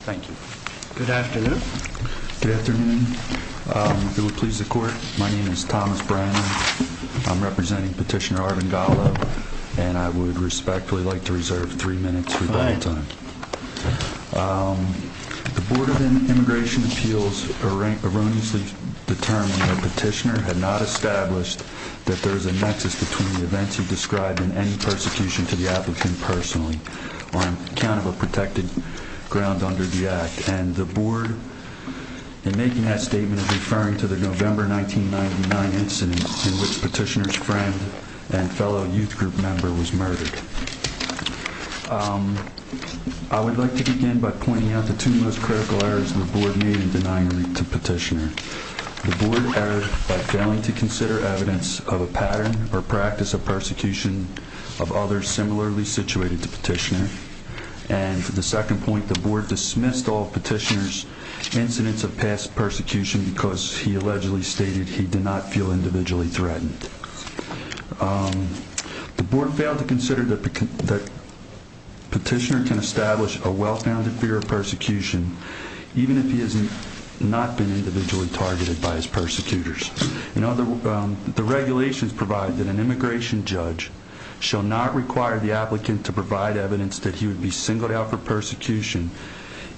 Thank you. Good afternoon. Good afternoon. It would please the court. My name is Thomas Brandon. I'm representing Petitioner Arvind Gallo, and I would respectfully like to reserve three minutes for debate time. The Board of Immigration Appeals erroneously determined that Petitioner had not established that there is a nexus between the events he described and any persecution to the applicant personally, on account of a protected ground under the Act. And the Board, in making that statement, is referring to the November 1999 incident in which Petitioner's friend and fellow youth group member was murdered. I would like to begin by pointing out the two most critical errors the Board made in denying a route to Petitioner. The Board erred by failing to consider evidence of a pattern or practice of persecution of others similarly situated to Petitioner. And the second point, the Board dismissed all Petitioner's incidents of past persecution because he allegedly stated he did not feel individually threatened. The Board failed to consider that Petitioner can establish a well-founded fear of persecution, even if he has not been individually targeted by his judge, shall not require the applicant to provide evidence that he would be singled out for persecution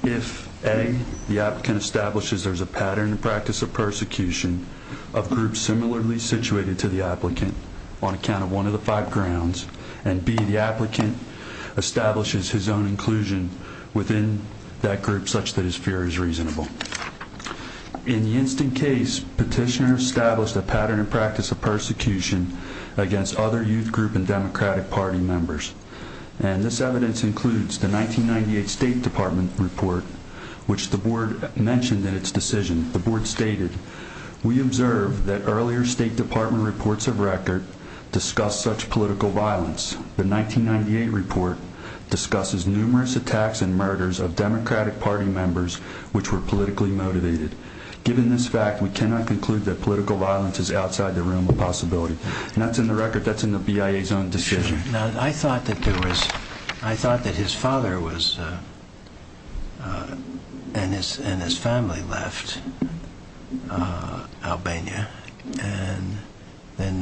if, A, the applicant establishes there is a pattern or practice of persecution of groups similarly situated to the applicant on account of one of the five grounds, and B, the applicant establishes his own inclusion within that group such that his fear is reasonable. In the instant case, Petitioner established a pattern and practice of persecution against other youth group and Democratic Party members. And this evidence includes the 1998 State Department report, which the Board mentioned in its decision. The Board stated, We observed that earlier State Department reports of record discussed such political violence. The 1998 report discusses numerous attacks and murders of Democratic Party members which were politically motivated. Given this fact, we cannot conclude that political violence is outside the realm of possibility. And that's in the record, that's in the BIA's own decision. I thought that his father and his family left Albania and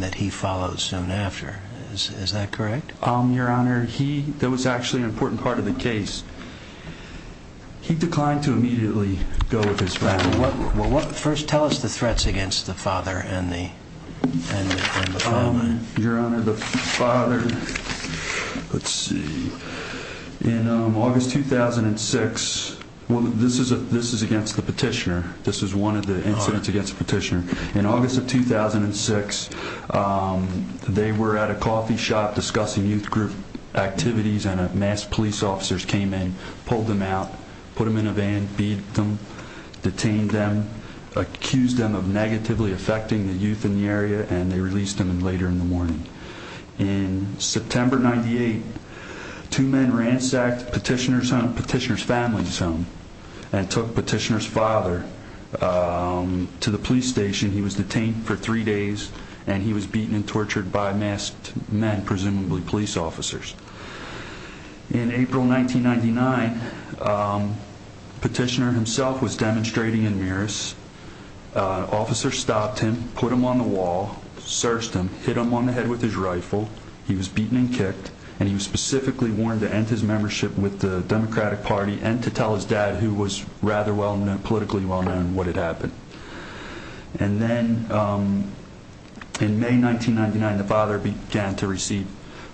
that he followed soon after, is that correct? Your Honor, that was actually an important part of the case. He declined to immediately go with his family. First, tell us the threats against the father and the family. Your Honor, the father, let's see, in August 2006, this is against the Petitioner, this is one of the incidents against the Petitioner. In August of 2006, they were at a coffee shop discussing youth group activities and a mass police officers came in, pulled them out, put them in a van, beat them, detained them, accused them of negatively affecting the youth in the area and they released them later in the morning. In September 98, two men ransacked Petitioner's family's home and took Petitioner's father to the police station. He was detained for three days and he was beaten and tortured by masked men, presumably police officers. In April 1999, Petitioner himself was demonstrating in Miros. Officers stopped him, put him on the wall, searched him, hit him on the head with his rifle. He was beaten and kicked and he was specifically warned to end his membership with the Democratic Party and to tell his dad, who was rather politically well known, what had happened. And then in May 1999, the father began to receive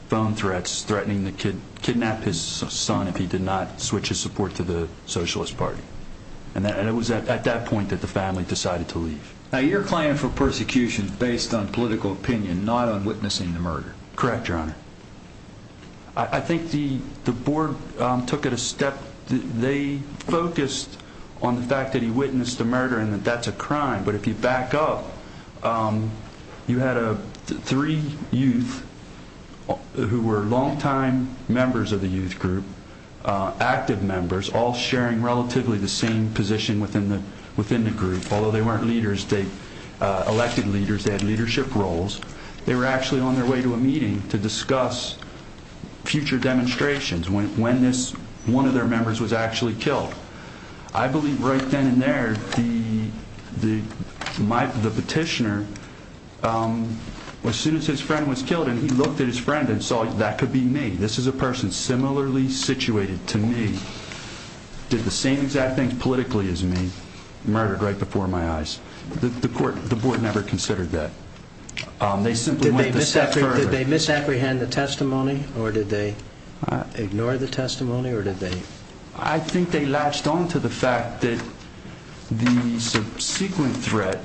phone threats, threatening to kidnap his son if he did not switch his support to the Socialist Party. And it was at that point that the family decided to leave. Now, your claim for persecution is based on political opinion, not on witnessing the murder. Correct, your honor. I think the board took it a step. They focused on the fact that he witnessed the murder and that that's a crime. But if you back up, you had three youth who were long-time members of the youth group, active members, all sharing relatively the same position within the group. Although they weren't elected leaders, they had leadership roles. They were actually on their way to a meeting to discuss future demonstrations when this one of their members was actually killed. I believe right then and there, the petitioner, as soon as his friend was killed and he looked at his friend and saw that could be me. This is a person similarly situated to me, did the same exact thing politically as me, murdered right before my eyes. The court, the board never considered that. They simply went a step further. Did they misapprehend the testimony or did they ignore the testimony or did they? I think they latched on to the fact that the subsequent threat,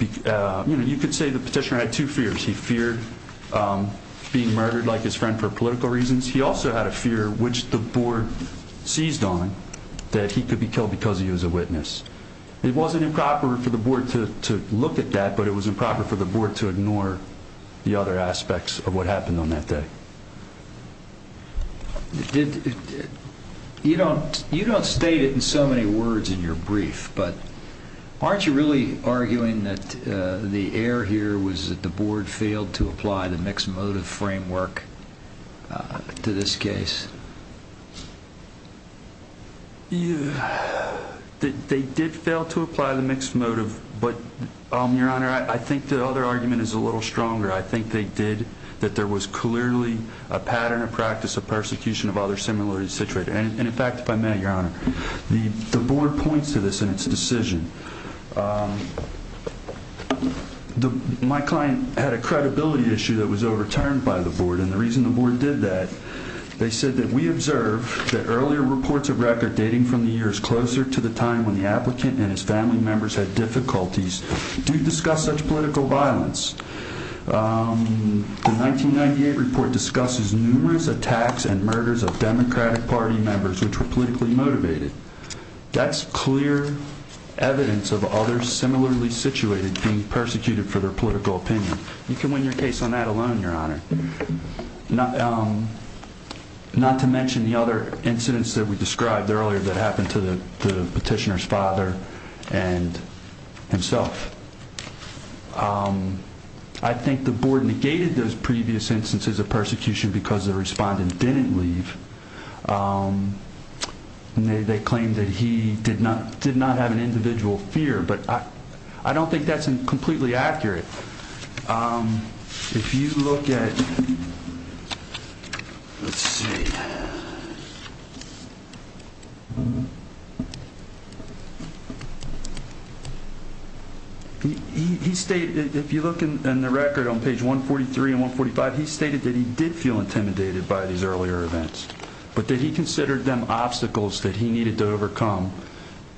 you could say the petitioner had two fears. He feared being murdered like his friend for political reasons. He also had a fear which the board seized on that he could be killed because he was a witness. It wasn't improper for the board to look at that, but it was improper for the board to ignore the other aspects of what happened on that day. You don't state it in so many words in your brief, but aren't you really arguing that the error here was that the board failed to apply the mixed motive framework to this case? They did fail to apply the mixed motive, but Your Honor, I think the other argument is a little stronger. I think they did, that there was clearly a pattern of practice of persecution of other similarly situated. And in fact, if I may, Your Honor, the board points to this in its decision. My client had a credibility issue that was overturned by the board and the reason the board did that, they said that we observe that earlier reports of record dating from the years closer to the time when the applicant and his family members had difficulties do discuss such political violence. The 1998 report discusses numerous attacks and murders of Democratic Party members which were politically motivated. That's clear evidence of others similarly situated being persecuted for their political opinion. You can win your case on that alone, Your Honor. Not to mention the other incidents that we described earlier that happened to the petitioner's father and himself. I think the board negated those previous instances of persecution because the respondent didn't leave. They claimed that he did not did not have an individual fear, but I don't think that's completely accurate. If you look at, let's see, he stated that if you look in the record on page 1 43 and 1 45, he stated that he did feel intimidated by these earlier events, but that he considered them obstacles that he needed to overcome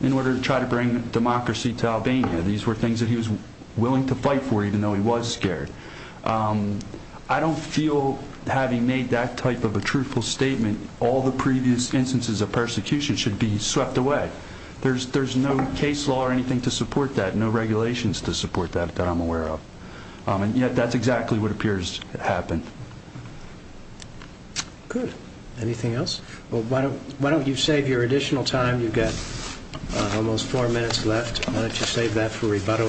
in order to try to bring democracy to Albania. These were things that he was willing to fight for, even though he was scared. I don't feel having made that type of a truthful statement, all the previous instances of persecution should be swept away. There's no case law or anything to support that, no regulations to support that that I'm aware of, and yet that's exactly what appears to happen. Good. Anything else? Well, why don't you save your additional time? You've got almost four minutes left. Why don't you save that for the next panel?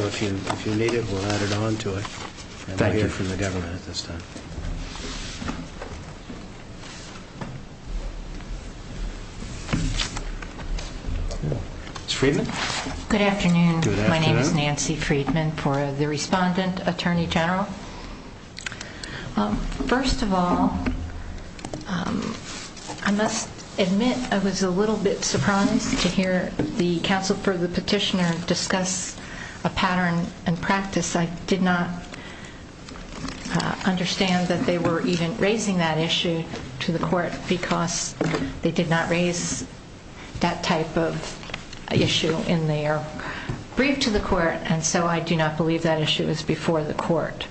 Good afternoon. My name is Nancy Friedman for the respondent attorney general. First of all, I must admit I was a little bit surprised to hear the counsel for the petitioner discuss a pattern and practice. I did not understand that they were even raising that issue to the court because they did not raise that type of issue in their brief to the court, and so I do not believe that issue is before the court.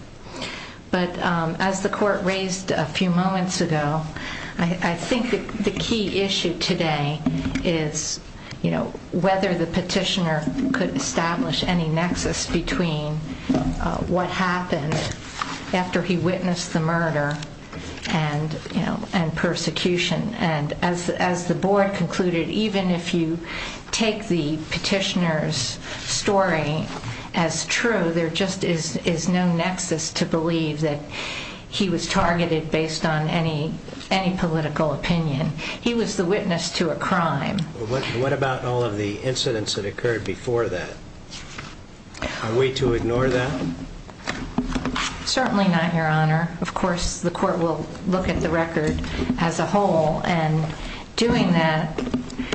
But as the court raised a few moments ago, I think the key issue today is whether the petitioner could establish any nexus between what happened after he witnessed the murder and persecution. And as the board concluded, even if you take the petitioner's story as true, there just is no nexus to believe that he was targeted based on any political opinion. He was the witness to a crime. What about all of the incidents that occurred before that? Are we to ignore that? Certainly not, your honor. Of course, the court will look at the record as a whole, and doing that,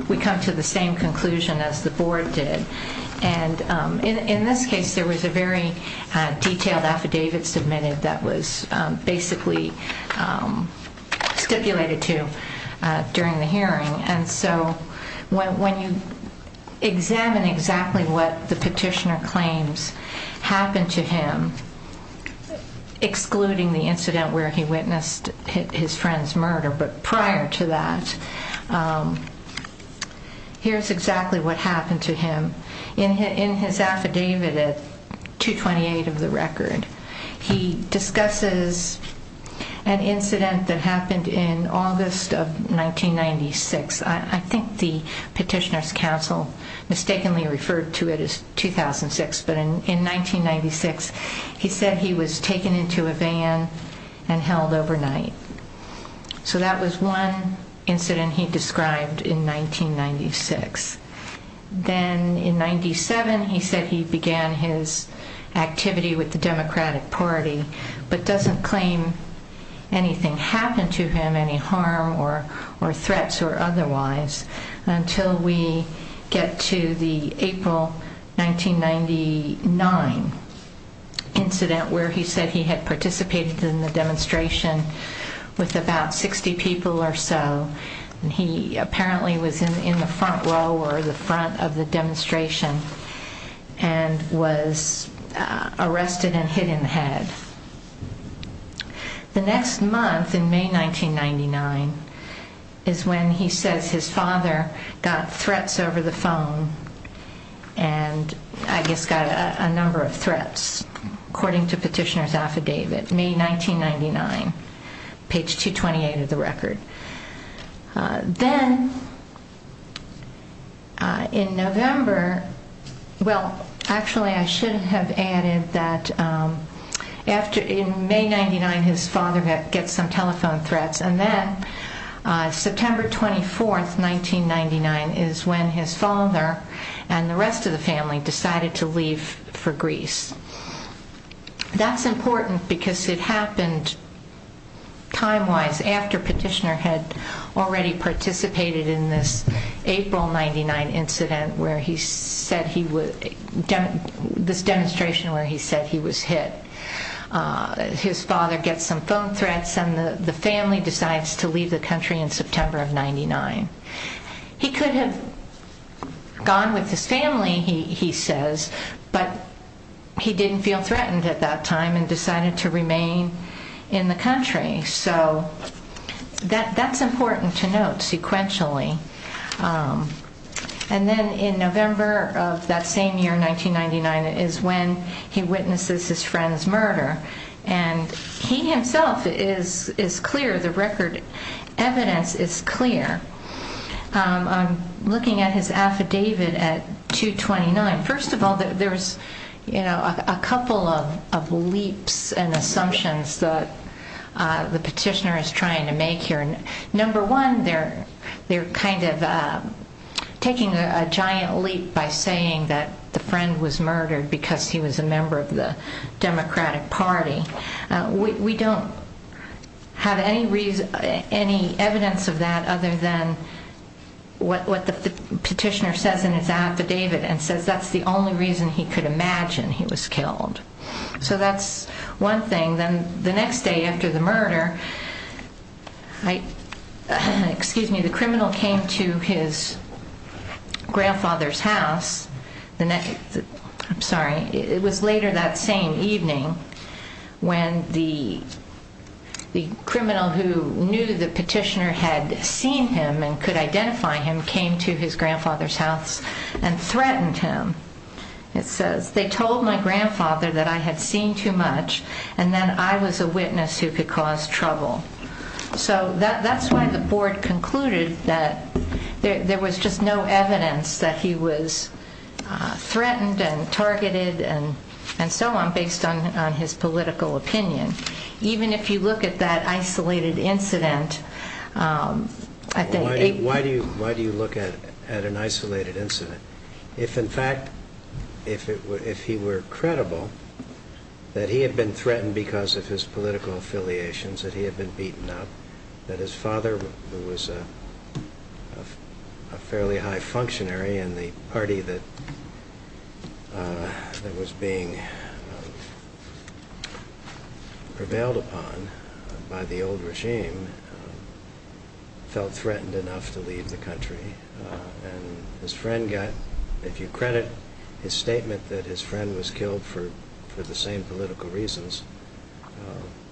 we come to the same conclusion as the board did. And in this case, there was a very detailed When you examine exactly what the petitioner claims happened to him, excluding the incident where he witnessed his friend's murder, but prior to that, here's exactly what happened to him. In his affidavit at 228 of the record, he discusses an incident that happened in August of 1996. I think the petitioner's counsel mistakenly referred to it as 2006, but in 1996, he said he was taken into a van and held overnight. So that was one incident he described in 1996. Then in 97, he said he began his activity with Democratic Party, but doesn't claim anything happened to him, any harm or threats or otherwise, until we get to the April 1999 incident where he said he had participated in the demonstration with about 60 people or so. He apparently was in the front row or the front of the demonstration and was arrested and hit in the head. The next month in May 1999 is when he says his father got threats over the phone, and I guess got a number of threats, according to petitioner's Well, actually, I should have added that in May 1999, his father gets some telephone threats, and then September 24th, 1999 is when his father and the rest of the family decided to leave for Greece. That's important because it happened time-wise after petitioner had already participated in this April 1999 incident, this demonstration where he said he was hit. His father gets some phone threats, and the family decides to leave the country in September of 1999. He could have gone with his family, he says, but he didn't feel threatened at that time and decided to remain in the country. So that's important to note sequentially. And then in November of that same year, 1999, is when he witnesses his friend's murder, and he himself is clear, the record evidence is clear. I'm looking at his affidavit at 229. First of all, there's a couple of leaps and assumptions that the petitioner is trying to make here. Number one, they're taking a giant leap by saying that the friend was murdered because he was a member of the Democratic Party. We don't have any evidence of that other than what the petitioner says in his affidavit, and says that's the only reason he could imagine he was killed. So that's one thing. Then the next day after the murder, the criminal came to his grandfather's house. I'm sorry, it was later that same evening when the criminal who knew the petitioner had seen him and could identify him came to his grandfather's house and threatened him. It says, they told my grandfather that I had seen too much and that I was a witness who could cause trouble. So that's why the board concluded that there was just no evidence that he was threatened and targeted and so on based on his political opinion. Even if you look at that Why do you look at an isolated incident? If in fact, if he were credible that he had been threatened because of his political affiliations, that he had been beaten up, that his father, who was a fairly high functionary in the party that was being prevailed upon by the old regime, felt threatened enough to leave the country and his friend got, if you credit his statement that his friend was killed for for the same political reasons,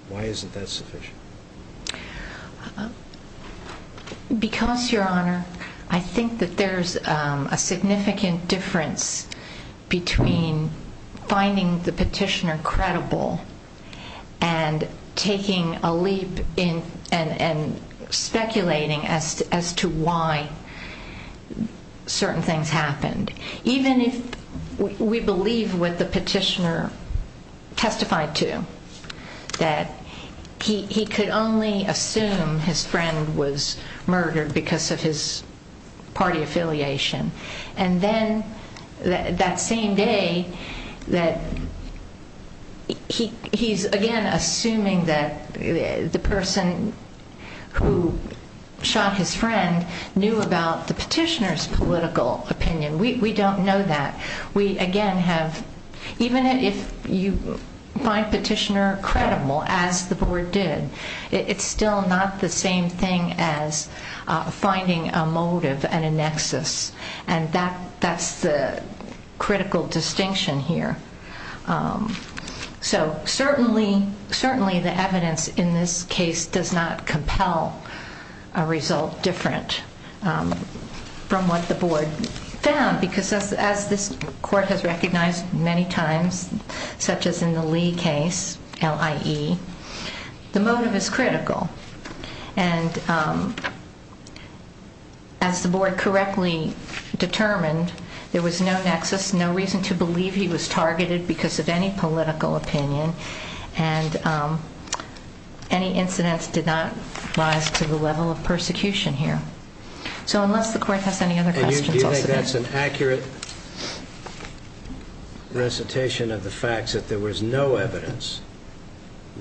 why isn't that sufficient? Because your honor, I think that there's a significant difference between finding the and taking a leap in and speculating as to why certain things happened. Even if we believe what the petitioner testified to, that he could only assume his friend was murdered because of his same day that he he's again assuming that the person who shot his friend knew about the petitioner's political opinion. We don't know that. We again have, even if you find petitioner credible as the board did, it's still not the same thing as finding a motive and a nexus and that that's the critical distinction here. So certainly the evidence in this case does not compel a result different from what the board found because as this court has recognized many times, such as in the Lee case, LIE, the motive is critical and as the board correctly determined there was no nexus, no reason to believe he was targeted because of any political opinion and any incidents did not rise to the level of persecution here. So unless the court has any other questions. Do you think that's an accurate recitation of the facts that there was no evidence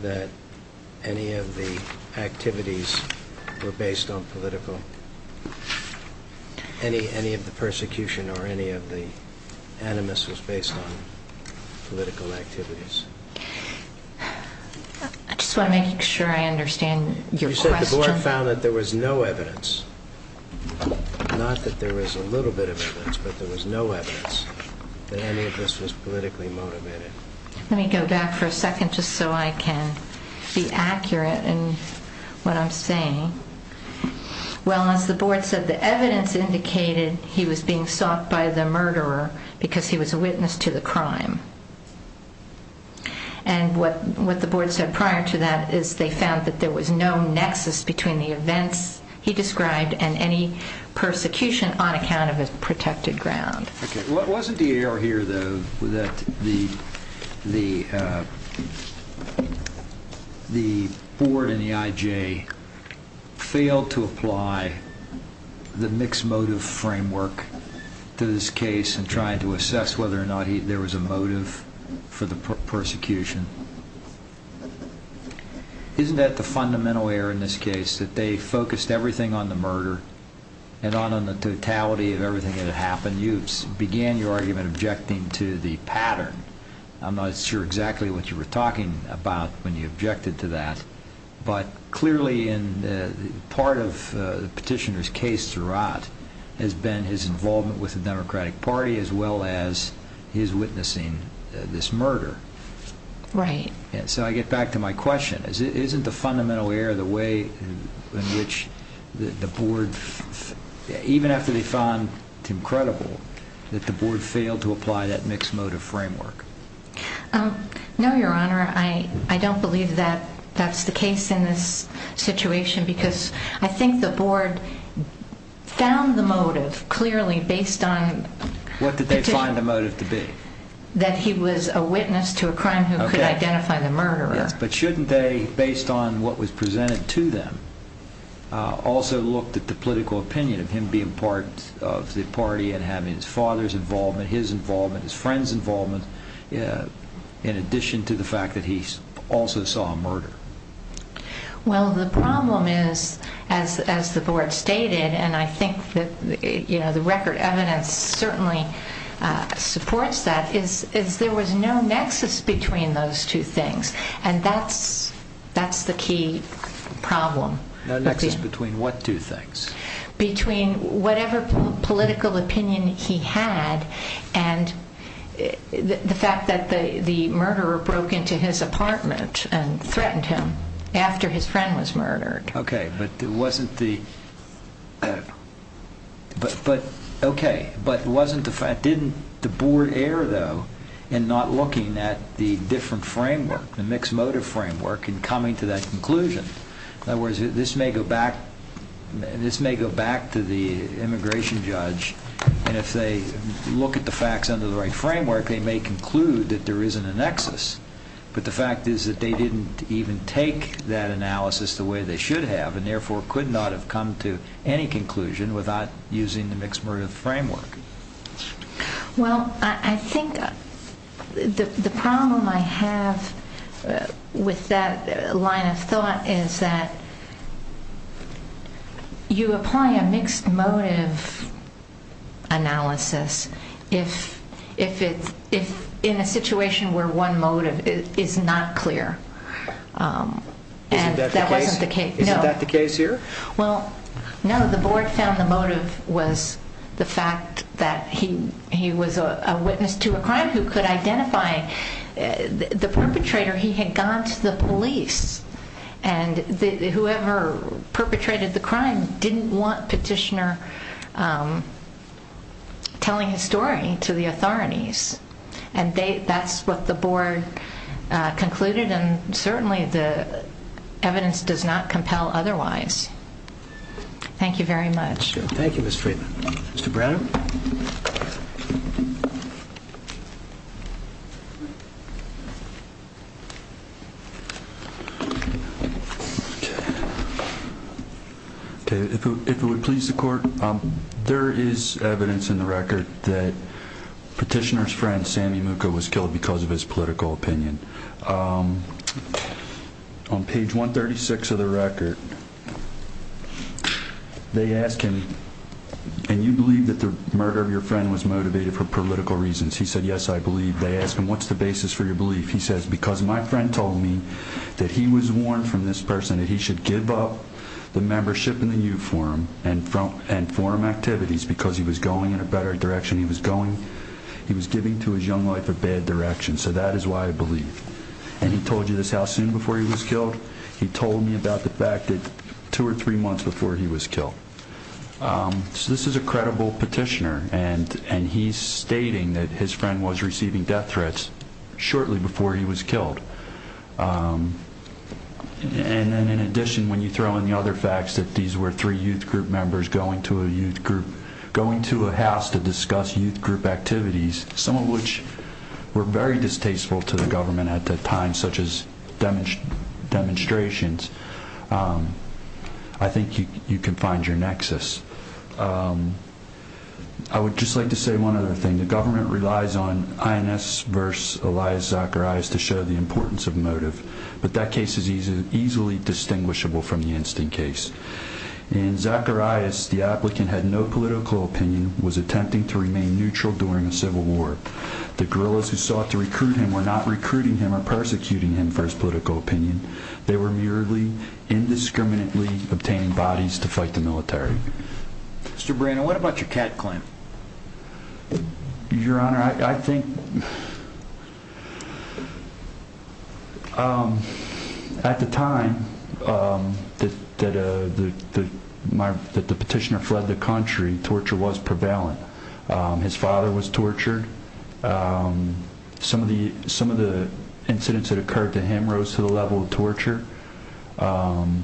that any of the activities were based on political any, any of the persecution or any of the animus was based on political activities? I just want to make sure I understand. You said the board found that there was no evidence not that there was a little bit of evidence, but there was no evidence that any of this was politically motivated. Let me go back for a second just so I can be accurate in what I'm saying. Well, as the board said, the evidence indicated he was being sought by the murderer because he was a witness to the crime. And what, what the board said prior to that is they found that there was no nexus between the events he described and any persecution on account of his protected ground. Okay. Wasn't the error here though that the, the, the board and the IJ failed to apply the mixed motive framework to this case and trying to assess whether or not there was a motive for the persecution. Isn't that the fundamental error in this case that they focused everything on the murder and on, on the totality of everything that had happened. You began your argument objecting to the pattern. I'm not sure exactly what you were talking about when you objected to that, but clearly in the part of the petitioner's case throughout has been his involvement with the democratic party as well as his witnessing this murder. Right. And so I get back to my question is, isn't the fundamental error the way in which the board, even after they found him credible that the board failed to apply that mixed motive framework? No, your honor. I, I don't believe that that's the case in this situation because I think the board found the motive clearly based on what did they find the motive to be that he was a witness to a crime who could identify the murderer. But shouldn't they, based on what was presented to them, uh, also looked at the political opinion of him being part of the party and having his father's involvement, his involvement, his friend's involvement, uh, in addition to the fact that he also saw a murder. Well, the problem is as, as the board stated, and I think that, you know, the record evidence certainly, uh, supports that is, is there was no nexus between those two things. And that's, that's the key problem. No nexus between what two things? Between whatever political opinion he had and the fact that the, the murderer broke into his apartment and threatened him after his friend was murdered. Okay. But it wasn't the, but, but okay, but it wasn't the fact, didn't the board err though in not looking at the different framework, the mixed motive framework and coming to that conclusion. In other words, this may go back, this may go back to the immigration judge and if they look at the facts under the right framework, they may conclude that there isn't a nexus. But the fact is that they didn't even take that analysis the way they should have and therefore could not have come to any conclusion without using the mixed motive framework. Well, I think the, the problem I have with that line of thought is that you apply a mixed motive analysis if, if it's, if in a case, if it's not clear. And that wasn't the case. Is that the case here? Well, no, the board found the motive was the fact that he, he was a witness to a crime who could identify the perpetrator. He had gone to the police and the, whoever perpetrated the crime didn't want the petitioner telling his story to the authorities. And they, that's what the board concluded. And certainly the evidence does not compel otherwise. Thank you very much. Thank you, Ms. Friedman. Mr. Brenner? Okay. If it would please the court, um, there is evidence in the record that petitioner's friend, Sammy Mooka was killed because of his political opinion. Um, on page 136 of the record, they ask him, and you believe that there was a murder of your friend was motivated for political reasons. He said, yes, I believe. They asked him, what's the basis for your belief? He says, because my friend told me that he was warned from this person that he should give up the membership in the youth forum and, and forum activities because he was going in a better direction. He was going, he was giving to his young life a bad direction. So that is why I believe. And he told you this, how soon before he was killed? He told me about the fact that two or three months before he was killed. Um, so this is a credible petitioner and, and he's stating that his friend was receiving death threats shortly before he was killed. Um, and then in addition, when you throw in the other facts that these were three youth group members going to a youth group, going to a house to discuss youth group activities, some of which were very distasteful to the government at that time, such as demonstrate demonstrations. Um, I think you, you can find your nexus. Um, I would just like to say one other thing. The government relies on INS verse Elias Zacharias to show the importance of motive, but that case is easy, easily distinguishable from the instant case. And Zacharias, the applicant had no political opinion, was attempting to remain neutral during a civil war. The guerrillas who sought to recruit him were not recruiting him or persecuting him for his political opinion. They were merely indiscriminately obtaining bodies to fight the military. Mr. Brennan, what about your cat clamp? Your Honor, I think, um, at the time, um, that, that, uh, that my petitioner fled the country, torture was prevalent. His father was tortured. Um, some of the some of the incidents that occurred to him rose to the level of torture. Um,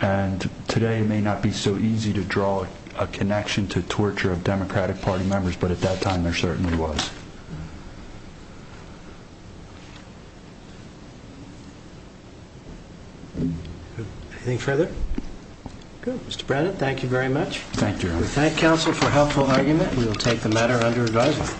and today may not be so easy to draw a connection to torture of Democratic Party members. But at that time, there certainly was anything further. Good, Mr Brennan. Thank you very much. Thank you. Thank Council for helpful argument. We'll take the matter under advisement.